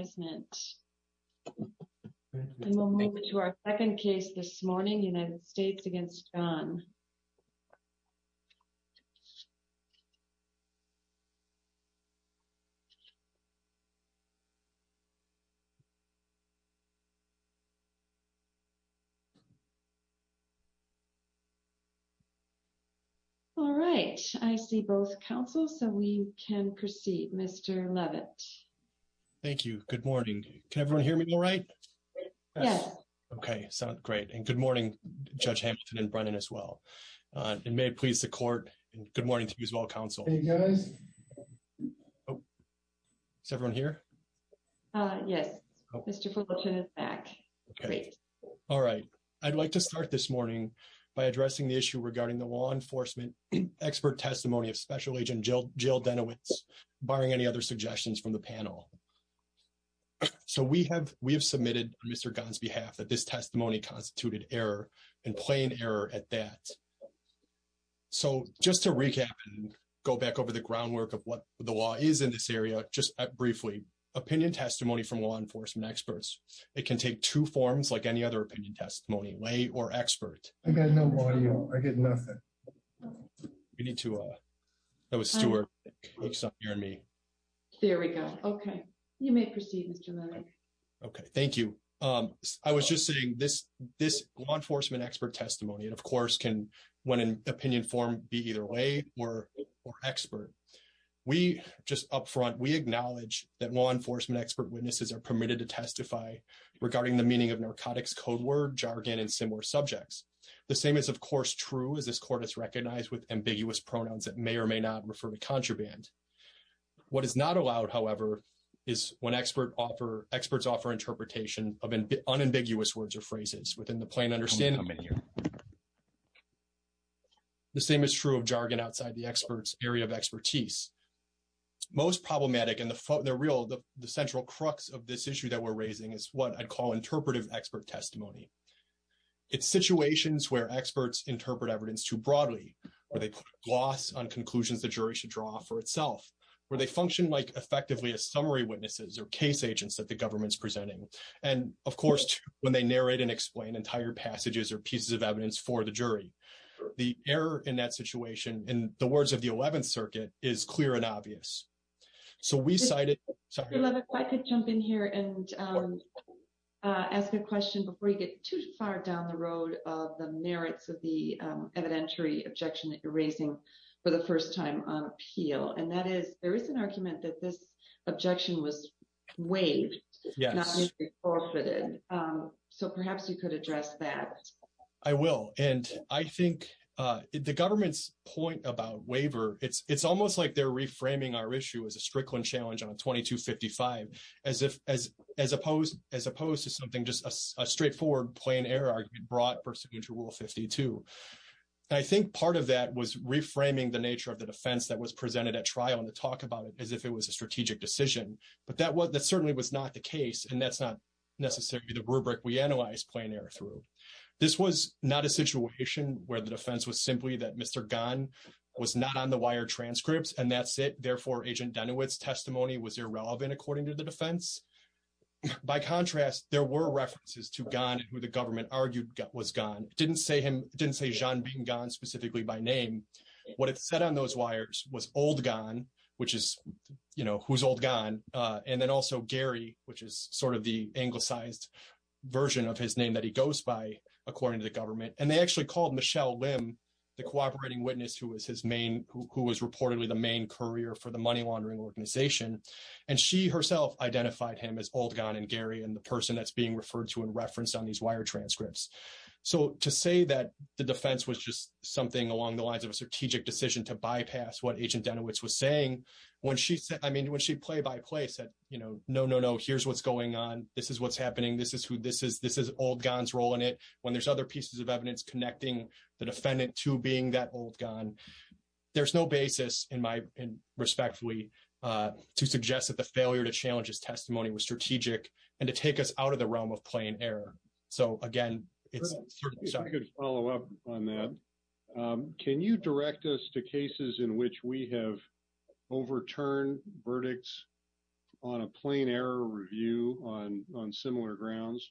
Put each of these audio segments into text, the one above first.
and we'll move to our second case this morning, United States v. Gan. All right. I see both counsels, so we can proceed. Mr. Leavitt. Thank you. Good morning. Can everyone hear me all right? Yes. Okay. Sounds great. And good morning, Judge Hamilton and Brennan as well. And may it please the court, and good morning to you as well, counsel. Is everyone here? Yes. Mr. Fulton is back. Okay. All right. I'd like to start this morning by addressing the issue regarding the law enforcement expert testimony of Special Panel. So, we have submitted on Mr. Gan's behalf that this testimony constituted error in plain error at that. So, just to recap and go back over the groundwork of what the law is in this area, just briefly, opinion testimony from law enforcement experts, it can take two forms like any other opinion testimony, lay or expert. I got no audio. I get nothing. We need to, that was Stewart. He's not hearing me. There we go. Okay. You may proceed, Mr. Leavitt. Okay. Thank you. I was just saying this law enforcement expert testimony, and of course, can, when in opinion form, be either lay or expert. We, just up front, we acknowledge that law enforcement expert witnesses are permitted to testify regarding the meaning of narcotics, code word, jargon, and similar subjects. The same is, of course, true as this Court has recognized with ambiguous pronouns that may or may not refer to contraband. What is not allowed, however, is when expert offer, experts offer interpretation of unambiguous words or phrases within the plain understanding. The same is true of jargon outside the expert's area of expertise. Most problematic and the real, the central crux of this issue that we're raising is what I'd call interpretive expert testimony. It's situations where experts interpret evidence too broadly, where they put a gloss on conclusions the jury should draw for itself, where they function like effectively as summary witnesses or case agents that the government's presenting, and of course, when they narrate and explain entire passages or pieces of evidence for the jury. The error in that situation, in the words of the Eleventh Circuit, is clear and obvious. So we cited... Mr. Levick, if I could jump in here and ask a question before you get too far down the road of the merits of the evidentiary objection that you're raising for the first time on appeal, and that is, there is an argument that this objection was waived, not even forfeited. So perhaps you could address that. I will. And I think the government's point about waiver, it's almost like they're reframing our issue as a Strickland challenge on 2255, as opposed to something just a straightforward plain error argument brought pursuant to Rule 52. And I think part of that was reframing the nature of the defense that was presented at trial and to talk about it as if it was a strategic decision. But that certainly was not the case, and that's not necessarily the rubric we analyzed plain error through. This was not a situation where the defense was simply that Mr. Gunn was not on the wire transcripts, and that's it. Therefore, Agent Dunewitt's testimony was irrelevant according to the defense. By contrast, there were references to Gunn who the government argued was Gunn. It didn't say Jean-Bing Gunn specifically by name. What it said on those wires was old Gunn, which is, you know, who's old Gunn, and then also Gary, which is sort of the anglicized version of his name that he goes by according to the government. And they actually called Michelle Lim, the cooperating witness who was reportedly the main courier for the money laundering organization, and she herself identified him as old Gunn and Gary and the person that's being referred to and referenced on these wire transcripts. So to say that the defense was just something along the lines of a strategic decision to bypass what Agent Dunewitt's was saying when she said, I mean, when she play by play said, you know, no, no, no, here's what's going on. This is what's happening. This is old Gunn's role in it. When there's other pieces of evidence connecting the defendant to being that old Gunn, there's no basis in my, respectfully, to suggest that the failure to challenge his testimony was strategic and to take us out of the realm of plain error. So again, it's... If I could follow up on that. Can you direct us to cases in which we have overturned verdicts on a plain error review on similar grounds?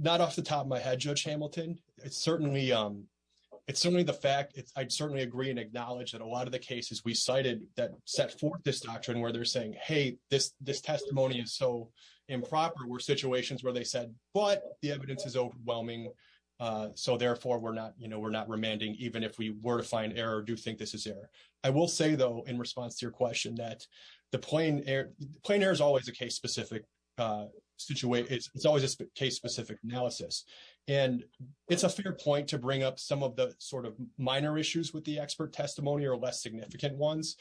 Not off the top of my head, Judge Hamilton. It's certainly the fact... I'd certainly agree and acknowledge that a lot of the cases we cited that set forth this doctrine where they're saying, hey, this testimony is so improper, were situations where they said, but the evidence is overwhelming. So therefore, we're not, you know, we're not remanding, even if we were to find error, do you think this is error? I will say, though, in response to your question that the plain error... Plain error is always a case-specific situation. It's always a case-specific analysis. And it's a fair point to bring up some of the sort of minor issues with the expert testimony or less significant ones.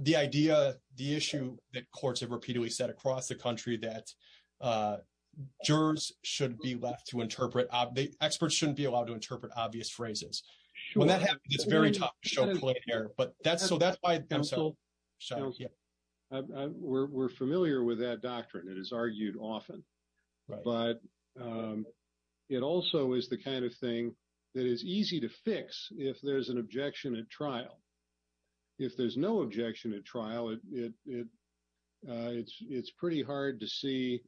The idea, the issue that courts have repeatedly said across the country that jurors should be left to interpret... The experts shouldn't be allowed to interpret obvious phrases. When that happens, it's very tough to show plain error, but that's why... We're familiar with that doctrine. It is argued often, but it also is the kind of thing that is easy to fix if there's an objection at trial. If there's no objection at trial, it's pretty hard to see.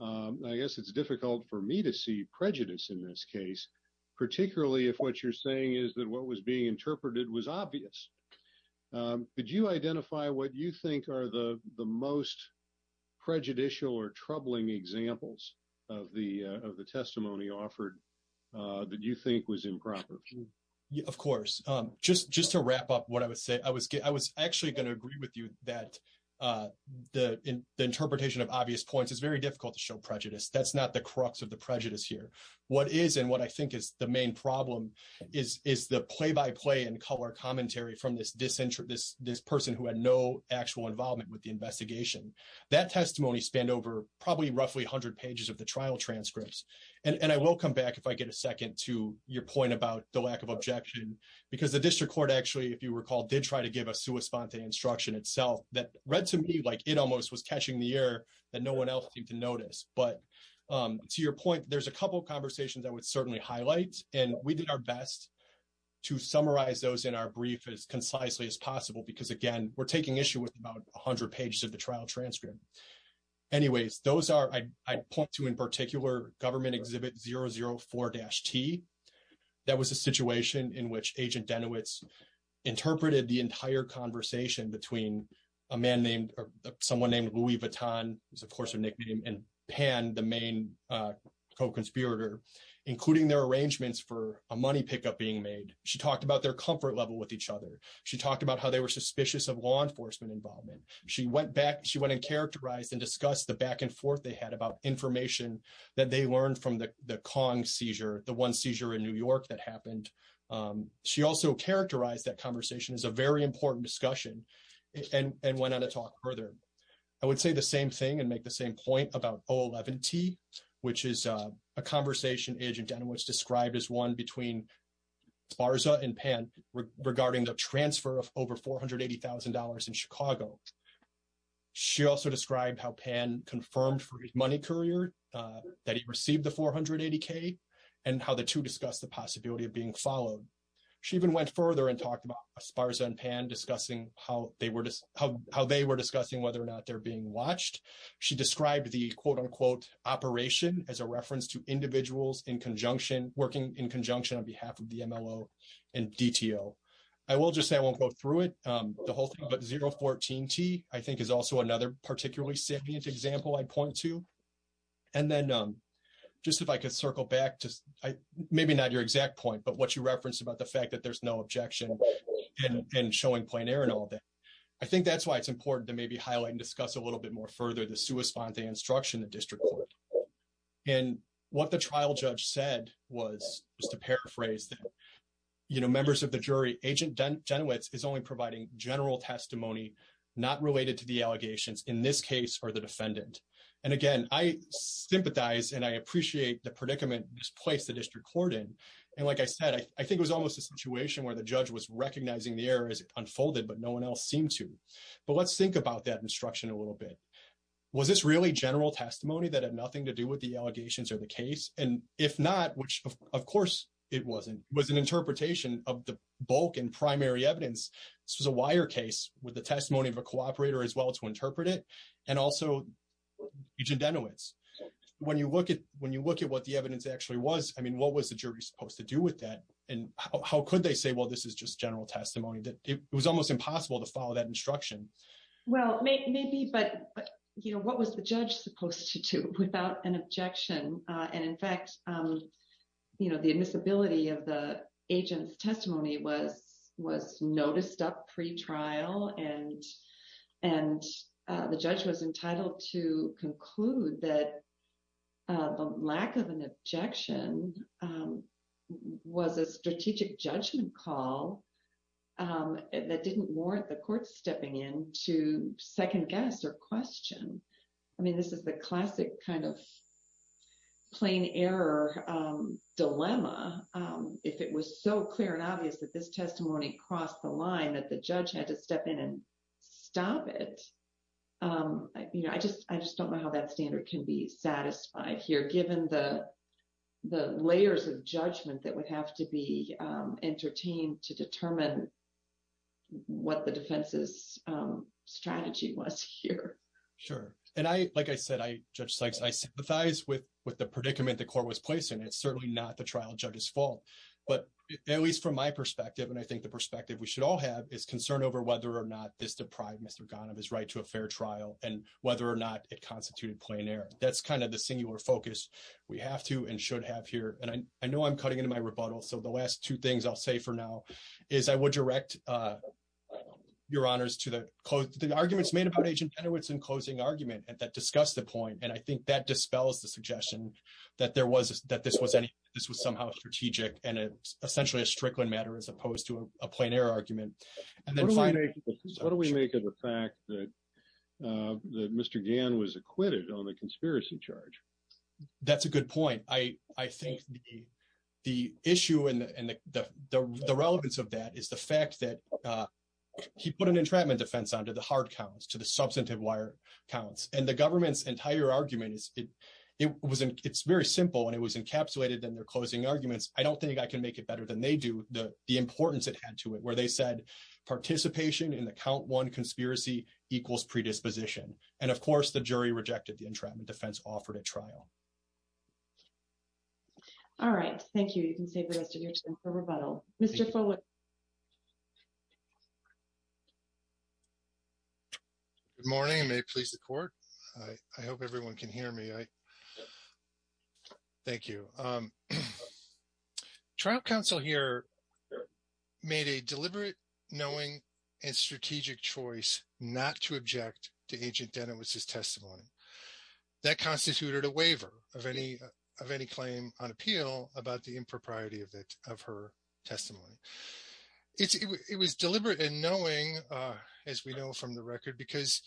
I guess it's difficult for me to see prejudice in this case, particularly if what you're saying is that what was being interpreted was obvious. Could you identify what you think are the most prejudicial or troubling examples of the testimony offered that you think was improper? Of course. Just to wrap up what I was saying, I was actually going to agree with you that the interpretation of obvious points is very difficult to show prejudice. That's not the crux of the prejudice here. What is and what I think is the main problem is the play-by-play and color commentary from this person who had no actual involvement with the investigation. That testimony spanned over probably roughly 100 pages of the trial transcripts. I will come back, if I get a second, to your point about the lack of objection, because the district court actually, if you recall, did try to give a sua sponte instruction itself that read to me like it almost was catching the air that no one else seemed to notice. To your point, there's a couple of conversations I would certainly highlight. We did our best to summarize those in our brief as concisely as possible because, again, we're taking issue with about 100 pages of the trial transcript. Anyways, those are, I'd point to in particular, Government Exhibit 004-T. That was a situation in which Agent Denowitz interpreted the entire conversation between a man named or someone named Louis Vuitton, who's of course a nickname, and Pan, the main co-conspirator, including their arrangements for a money pickup being made. She talked about their comfort level with each other. She talked about how they were suspicious of law enforcement involvement. She went and characterized and discussed the back and forth they had about information that they learned from the Kong seizure, the one seizure in New York that happened. She also characterized that conversation as a very important discussion and went on to talk further. I would say the same thing and make the same point about 011-T, which is a conversation Agent Denowitz described as one between Sparza and Pan regarding the transfer of over $480,000 in Chicago. She also described how Pan confirmed for his money courier that he received the $480,000 and how the two discussed the possibility of being followed. She even went further and talked about Sparza and Pan discussing how they were discussing whether or not they're being watched. She described the, quote, unquote, operation as a reference to individuals in conjunction, working in conjunction on behalf of the MLO and DTO. I will just say, I won't go through it, the whole thing, but 014-T, I think, is also another particularly salient example I'd point to. And then just if I could circle back to, maybe not your exact point, but what you referenced about the fact that there's no objection and showing plein air and all that. I think that's why it's important to maybe highlight and discuss a little bit more further the sua sponte instruction in the district court. And what the trial judge said was, just to paraphrase, you know, members of the jury, Agent Denowitz is only providing general testimony not related to the allegations in this case or the defendant. And again, I sympathize and I appreciate the situation where the judge was recognizing the error as it unfolded, but no one else seemed to. But let's think about that instruction a little bit. Was this really general testimony that had nothing to do with the allegations or the case? And if not, which of course it wasn't, was an interpretation of the bulk and primary evidence. This was a wire case with the testimony of a cooperator as well to interpret it and also Agent Denowitz. When you look at what the evidence actually was, I mean, what was the jury supposed to do with that? And how could they say, well, this is just general testimony that it was almost impossible to follow that instruction? Well, maybe, but you know, what was the judge supposed to do without an objection? And in fact, you know, the admissibility of the agent's testimony was noticed up pre-trial and and the judge was entitled to conclude that the lack of an objection was a strategic judgment call that didn't warrant the court stepping in to second guess or question. I mean, this is the classic kind of plain error dilemma. If it was so clear and obvious that this testimony crossed the stop it, you know, I just don't know how that standard can be satisfied here given the layers of judgment that would have to be entertained to determine what the defense's strategy was here. Sure. And I, like I said, I, Judge Sykes, I sympathize with the predicament the court was placed in. It's certainly not the trial judge's fault, but at least from my perspective, it's not the trial judge's fault that this deprived Mr. Ghanem his right to a fair trial and whether or not it constituted plain error. That's kind of the singular focus we have to and should have here. And I know I'm cutting into my rebuttal. So the last two things I'll say for now is I would direct your honors to the arguments made about Agent Genowitz in closing argument that discussed the point. And I think that dispels the suggestion that there was, that this was somehow strategic and essentially a Strickland matter as opposed to a plain error argument. What do we make of the fact that Mr. Ghan was acquitted on the conspiracy charge? That's a good point. I think the issue and the relevance of that is the fact that he put an entrapment defense on to the hard counts, to the substantive wire counts. And the government's entire argument, it's very simple and it was encapsulated in their closing arguments. I don't think I can make it better than they do, the importance it had to where they said participation in the count one conspiracy equals predisposition. And of course, the jury rejected the entrapment defense offered at trial. All right. Thank you. You can save the rest of your time for rebuttal. Mr. Follett. Good morning. May it please the court. I hope everyone can hear me. Thank you. The trial counsel here made a deliberate, knowing, and strategic choice not to object to Agent Danowitz's testimony. That constituted a waiver of any claim on appeal about the impropriety of her testimony. It was deliberate and knowing, as we know from the record, because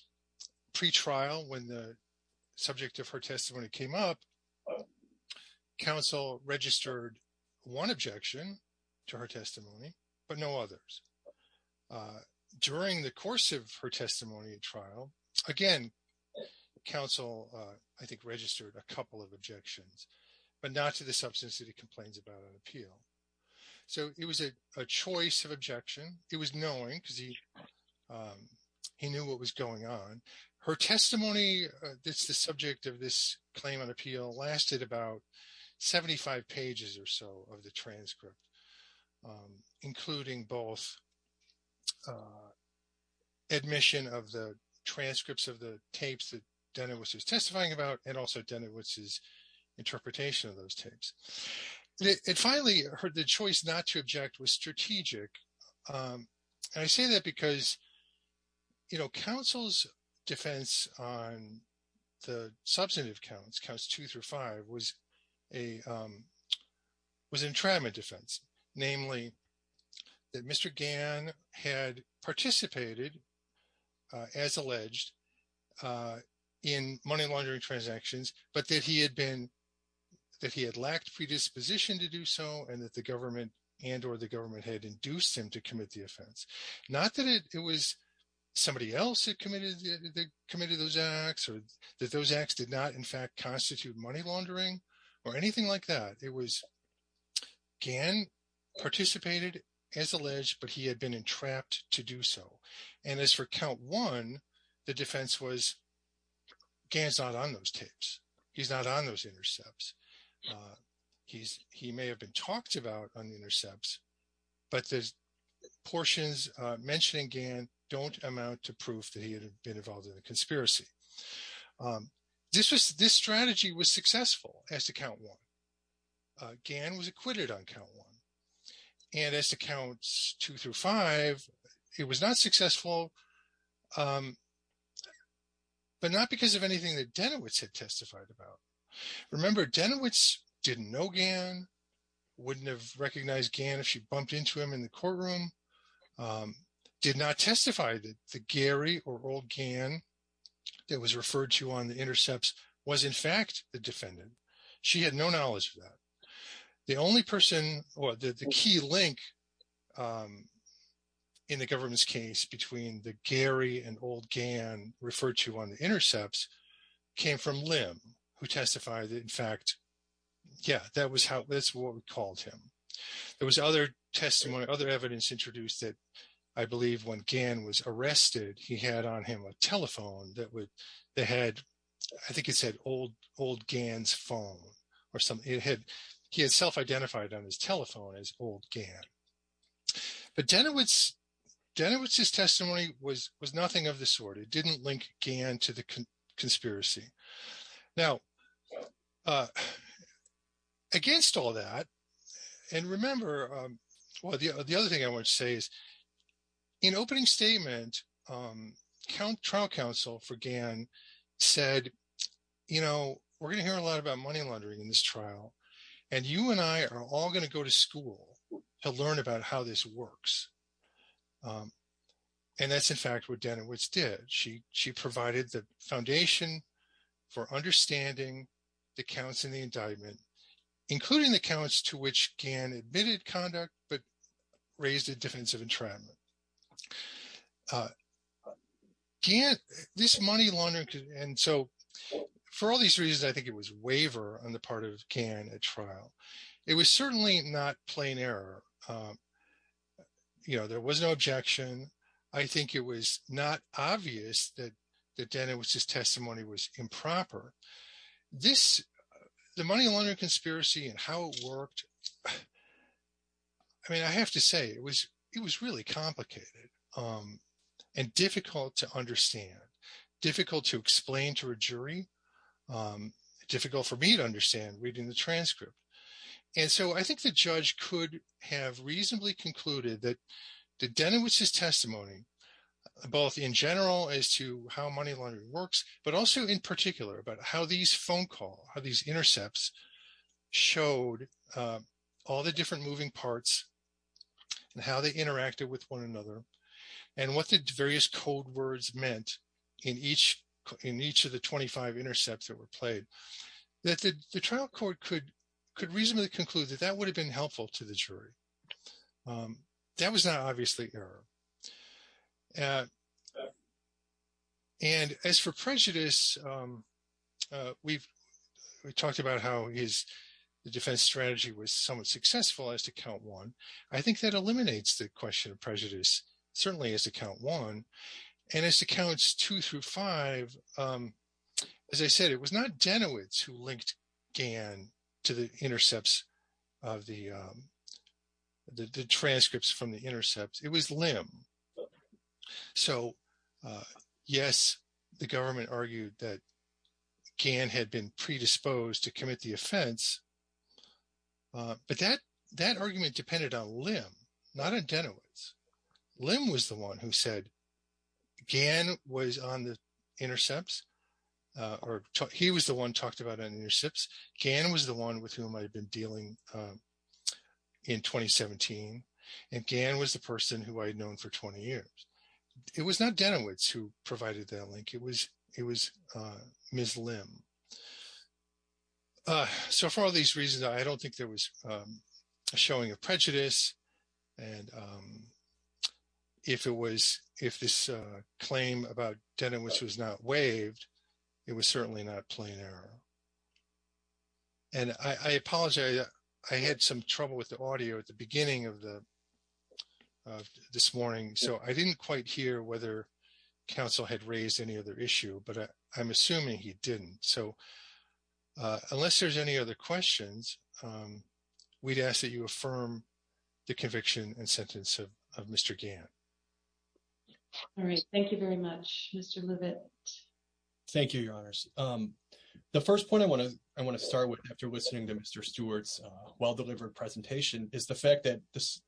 pre-trial, when the subject of her testimony came up, counsel registered one objection to her testimony, but no others. During the course of her testimony at trial, again, counsel, I think, registered a couple of objections, but not to the substance that he complains about on appeal. So it was a choice of objection. It was knowing because he knew what was going on. Her testimony that's the subject of this claim on appeal lasted about 75 pages or so of the transcript, including both admission of the transcripts of the tapes that Danowitz was testifying about and also Danowitz's interpretation of those tapes. And finally, her choice not to object was strategic. And I say that because, you know, counsel's defense on the substantive counts, counts two through five, was an entrapment defense, namely that Mr. Gann had participated, as alleged, in money laundering transactions, but that he had lacked predisposition to do so and that the government and or the government had induced him to commit the offense. Not that it was somebody else that committed those acts or that those acts did not, in fact, constitute money laundering or anything like that. It was Gann participated, as alleged, but he had been entrapped to do so. And as for count one, the defense was, Gann's not on those tapes. He's not on those intercepts. He may have been talked about on the intercepts, but the portions mentioning Gann don't amount to proof that he had been involved in a conspiracy. This strategy was successful as to count one. Gann was acquitted on count one. And as to counts two through five, it was not successful, but not because of anything that Denowitz had testified about. Remember, Denowitz didn't know Gann, wouldn't have recognized Gann if she bumped into him in the courtroom, did not testify that the Gary or old Gann that was referred to on the intercepts was, in fact, the defendant. She had no knowledge of that. The only person or the key link in the government's case between the Gary and old Gann referred to on the intercepts came from Lim, who testified that, in fact, yeah, that's what we called him. There was other testimony, other evidence introduced that I believe when Gann was arrested, he had on him a telephone that had, I think it said old Gann's phone or something. He had self-identified on his telephone as old Gann. But Denowitz's testimony was nothing of the sort. It didn't link Gann to the conspiracy. Now, against all that, and remember, the other thing I want to say is in opening statement, trial counsel for Gann said, you know, we're going to hear a lot about money laundering in this trial, and you and I are all going to go to school to learn about how this works. And that's, in fact, what Denowitz did. She provided the foundation for understanding the counts in the indictment, including the counts to which Gann admitted conduct, but raised the difference of entrapment. This money laundering, and so for all these reasons, I think it was waiver on the part of Gann at trial. It was certainly not plain error. You know, there was no objection. I think it was not obvious that Denowitz's testimony was improper. This, the money laundering conspiracy and how it worked, I mean, I have to say it was really complicated and difficult to understand, difficult to explain to a jury, difficult for me to understand reading the transcript. And so I think the judge could have reasonably concluded that Denowitz's testimony, both in general as to how money works, but also in particular about how these phone calls, how these intercepts showed all the different moving parts and how they interacted with one another, and what the various code words meant in each of the 25 intercepts that were played, that the trial court could reasonably conclude that that would have been helpful to the jury. That was not for prejudice. We've talked about how his defense strategy was somewhat successful as to count one. I think that eliminates the question of prejudice, certainly as to count one. And as to counts two through five, as I said, it was not Denowitz who linked Gann to the intercepts of the transcripts from the intercepts. It was Lim. So, yes, the government argued that Gann had been predisposed to commit the offense. But that argument depended on Lim, not on Denowitz. Lim was the one who said Gann was on the intercepts, or he was the one talked about intercepts. Gann was the one with whom I'd been dealing in 2017. And Gann was the person who I'd known for 20 years. It was not Denowitz who provided that link. It was Ms. Lim. So, for all these reasons, I don't think there was a showing of prejudice. And if this claim about Denowitz was not waived, it was certainly not plain error. And I apologize. I had some trouble with the audio at the beginning of the this morning. So, I didn't quite hear whether counsel had raised any other issue, but I'm assuming he didn't. So, unless there's any other questions, we'd ask that you affirm the conviction and sentence of Mr. Gann. All right. Thank you very much, Mr. Levitt. Thank you, Your Honors. The first point I want to start with after listening to Mr. Stewart's well-delivered presentation is the fact that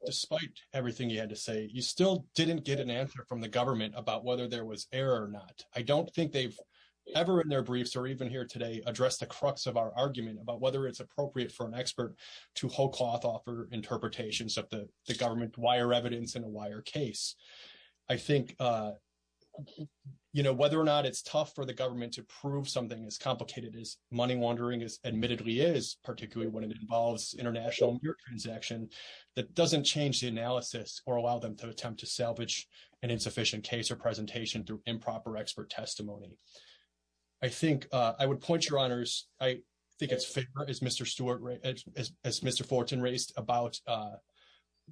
despite everything he had to say, you still didn't get an answer from the government about whether there was error or not. I don't think they've ever in their briefs or even here today addressed the crux of our argument about whether it's appropriate for an expert to whole cloth offer interpretations of the government wire it's tough for the government to prove something as complicated as money laundering admittedly is, particularly when it involves international transaction that doesn't change the analysis or allow them to attempt to salvage an insufficient case or presentation through improper expert testimony. I think I would point Your Honors, I think it's fair as Mr. Stewart, as Mr. Fulton raised about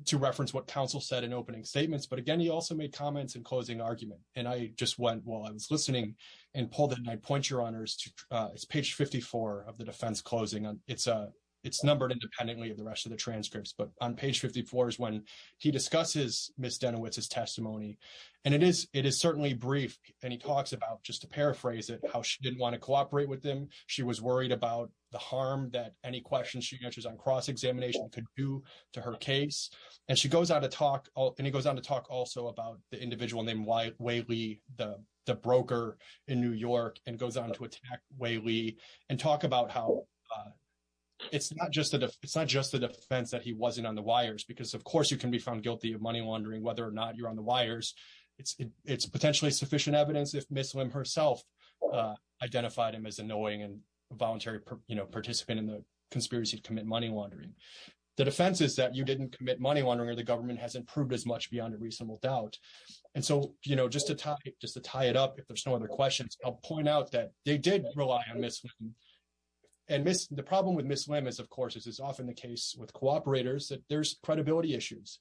to reference what counsel said in opening statements. But again, he also made comments in closing argument. And I just went while I was listening and pulled it, and I point Your Honors to page 54 of the defense closing. It's numbered independently of the rest of the transcripts. But on page 54 is when he discusses Ms. Denowitz's testimony. And it is certainly brief. And he talks about, just to paraphrase it, how she didn't want to cooperate with him. She was worried about the harm that any questions she answers on cross-examination could do to her case. And she goes on to talk, and he goes on to talk also about the individual named Wei Li, the broker in New York, and goes on to attack Wei Li and talk about how it's not just a defense that he wasn't on the wires, because of course you can be found guilty of money laundering whether or not you're on the wires. It's potentially sufficient evidence if Ms. Lim herself identified him as annoying and a voluntary participant in the conspiracy to you didn't commit money laundering or the government hasn't proved as much beyond a reasonable doubt. And so, you know, just to tie it up, if there's no other questions, I'll point out that they did rely on Ms. Lim. And the problem with Ms. Lim is, of course, this is often the case with cooperators, that there's credibility issues.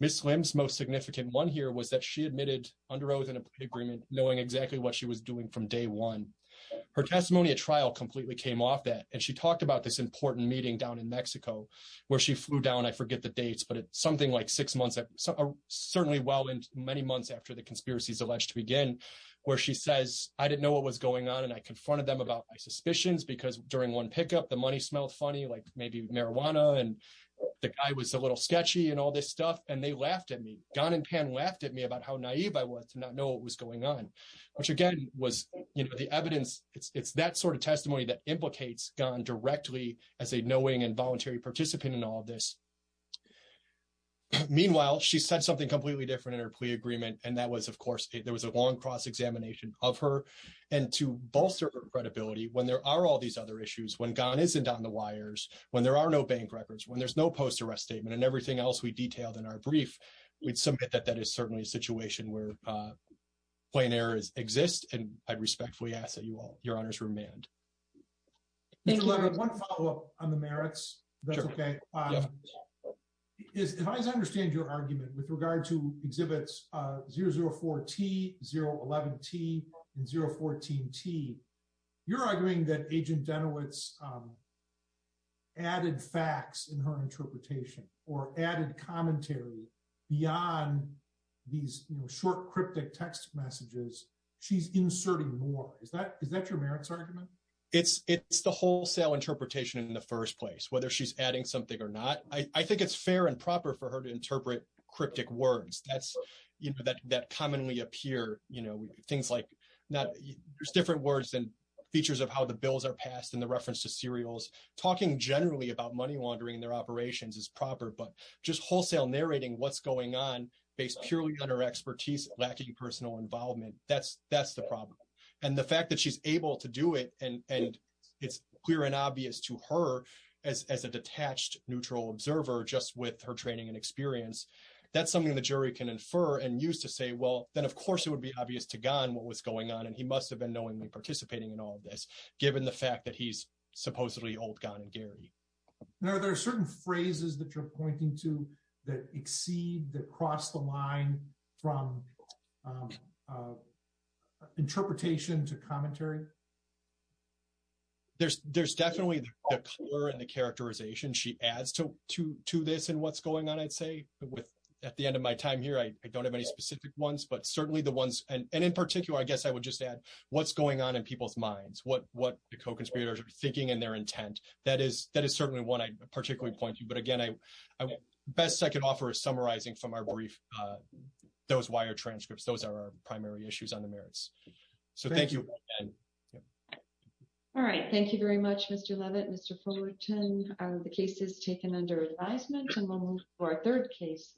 Ms. Lim's most significant one here was that she admitted under oath in a plea agreement knowing exactly what she was doing from day one. Her testimony at trial completely came off that. And she talked about this important meeting down in Mexico, where she flew down, I forget the dates, but it's something like six months, certainly well into many months after the conspiracies alleged to begin, where she says, I didn't know what was going on. And I confronted them about my suspicions, because during one pickup, the money smelled funny, like maybe marijuana, and the guy was a little sketchy and all this stuff. And they laughed at me. Gan and Pan laughed at me about how naive I was to not know what was going on, which again, was, you know, the evidence, it's that sort of testimony that implicates Gan directly as a knowing and voluntary participant in all of this. Meanwhile, she said something completely different in her plea agreement. And that was, of course, there was a long cross-examination of her. And to bolster her credibility, when there are all these other issues, when Gan isn't on the wires, when there are no bank records, when there's no post-arrest statement and everything else we detailed in our brief, we'd submit that that is certainly a situation where plain errors exist. And I respectfully ask that you all, your honors, remand. Mr. Levin, one follow-up on the merits, if that's okay. If I understand your argument with regard to exhibits 004T, 011T, and 014T, you're arguing that Agent Danowitz added facts in her interpretation or added commentary beyond these short cryptic text messages. She's inserting more. Is that your merits argument? It's the wholesale interpretation in the first place, whether she's adding something or not. I think it's fair and proper for her to interpret cryptic words that commonly appear. There's different words and features of how the bills are passed in the reference to serials. Talking generally about money laundering in their operations is proper, but just wholesale narrating what's going on based purely on her expertise, lacking personal involvement, that's the problem. And the fact that she's able to do it, and it's clear and obvious to her as a detached, neutral observer, just with her training and experience, that's something the jury can infer and use to say, well, then of course it would be obvious to Ghan what was going on, and he must have been knowingly participating in all of this, given the fact that he's supposedly old Ghan and Gary. Now, there are certain phrases that you're pointing to that exceed, that cross the line from interpretation to commentary. There's definitely the color and the characterization she adds to this and what's going on, I'd say. At the end of my time here, I don't have any specific ones, but certainly the ones, and in particular, I guess I would just add what's going on in people's minds, what the co-conspirators are thinking and their intent. That is certainly one I'd particularly point to. Again, the best I could offer is summarizing from our brief, those wire transcripts. Those are our primary issues on the merits. Thank you. All right. Thank you very much, Mr. Levitt, Mr. Fullerton. The case is taken under advisement, and we'll move to our third case.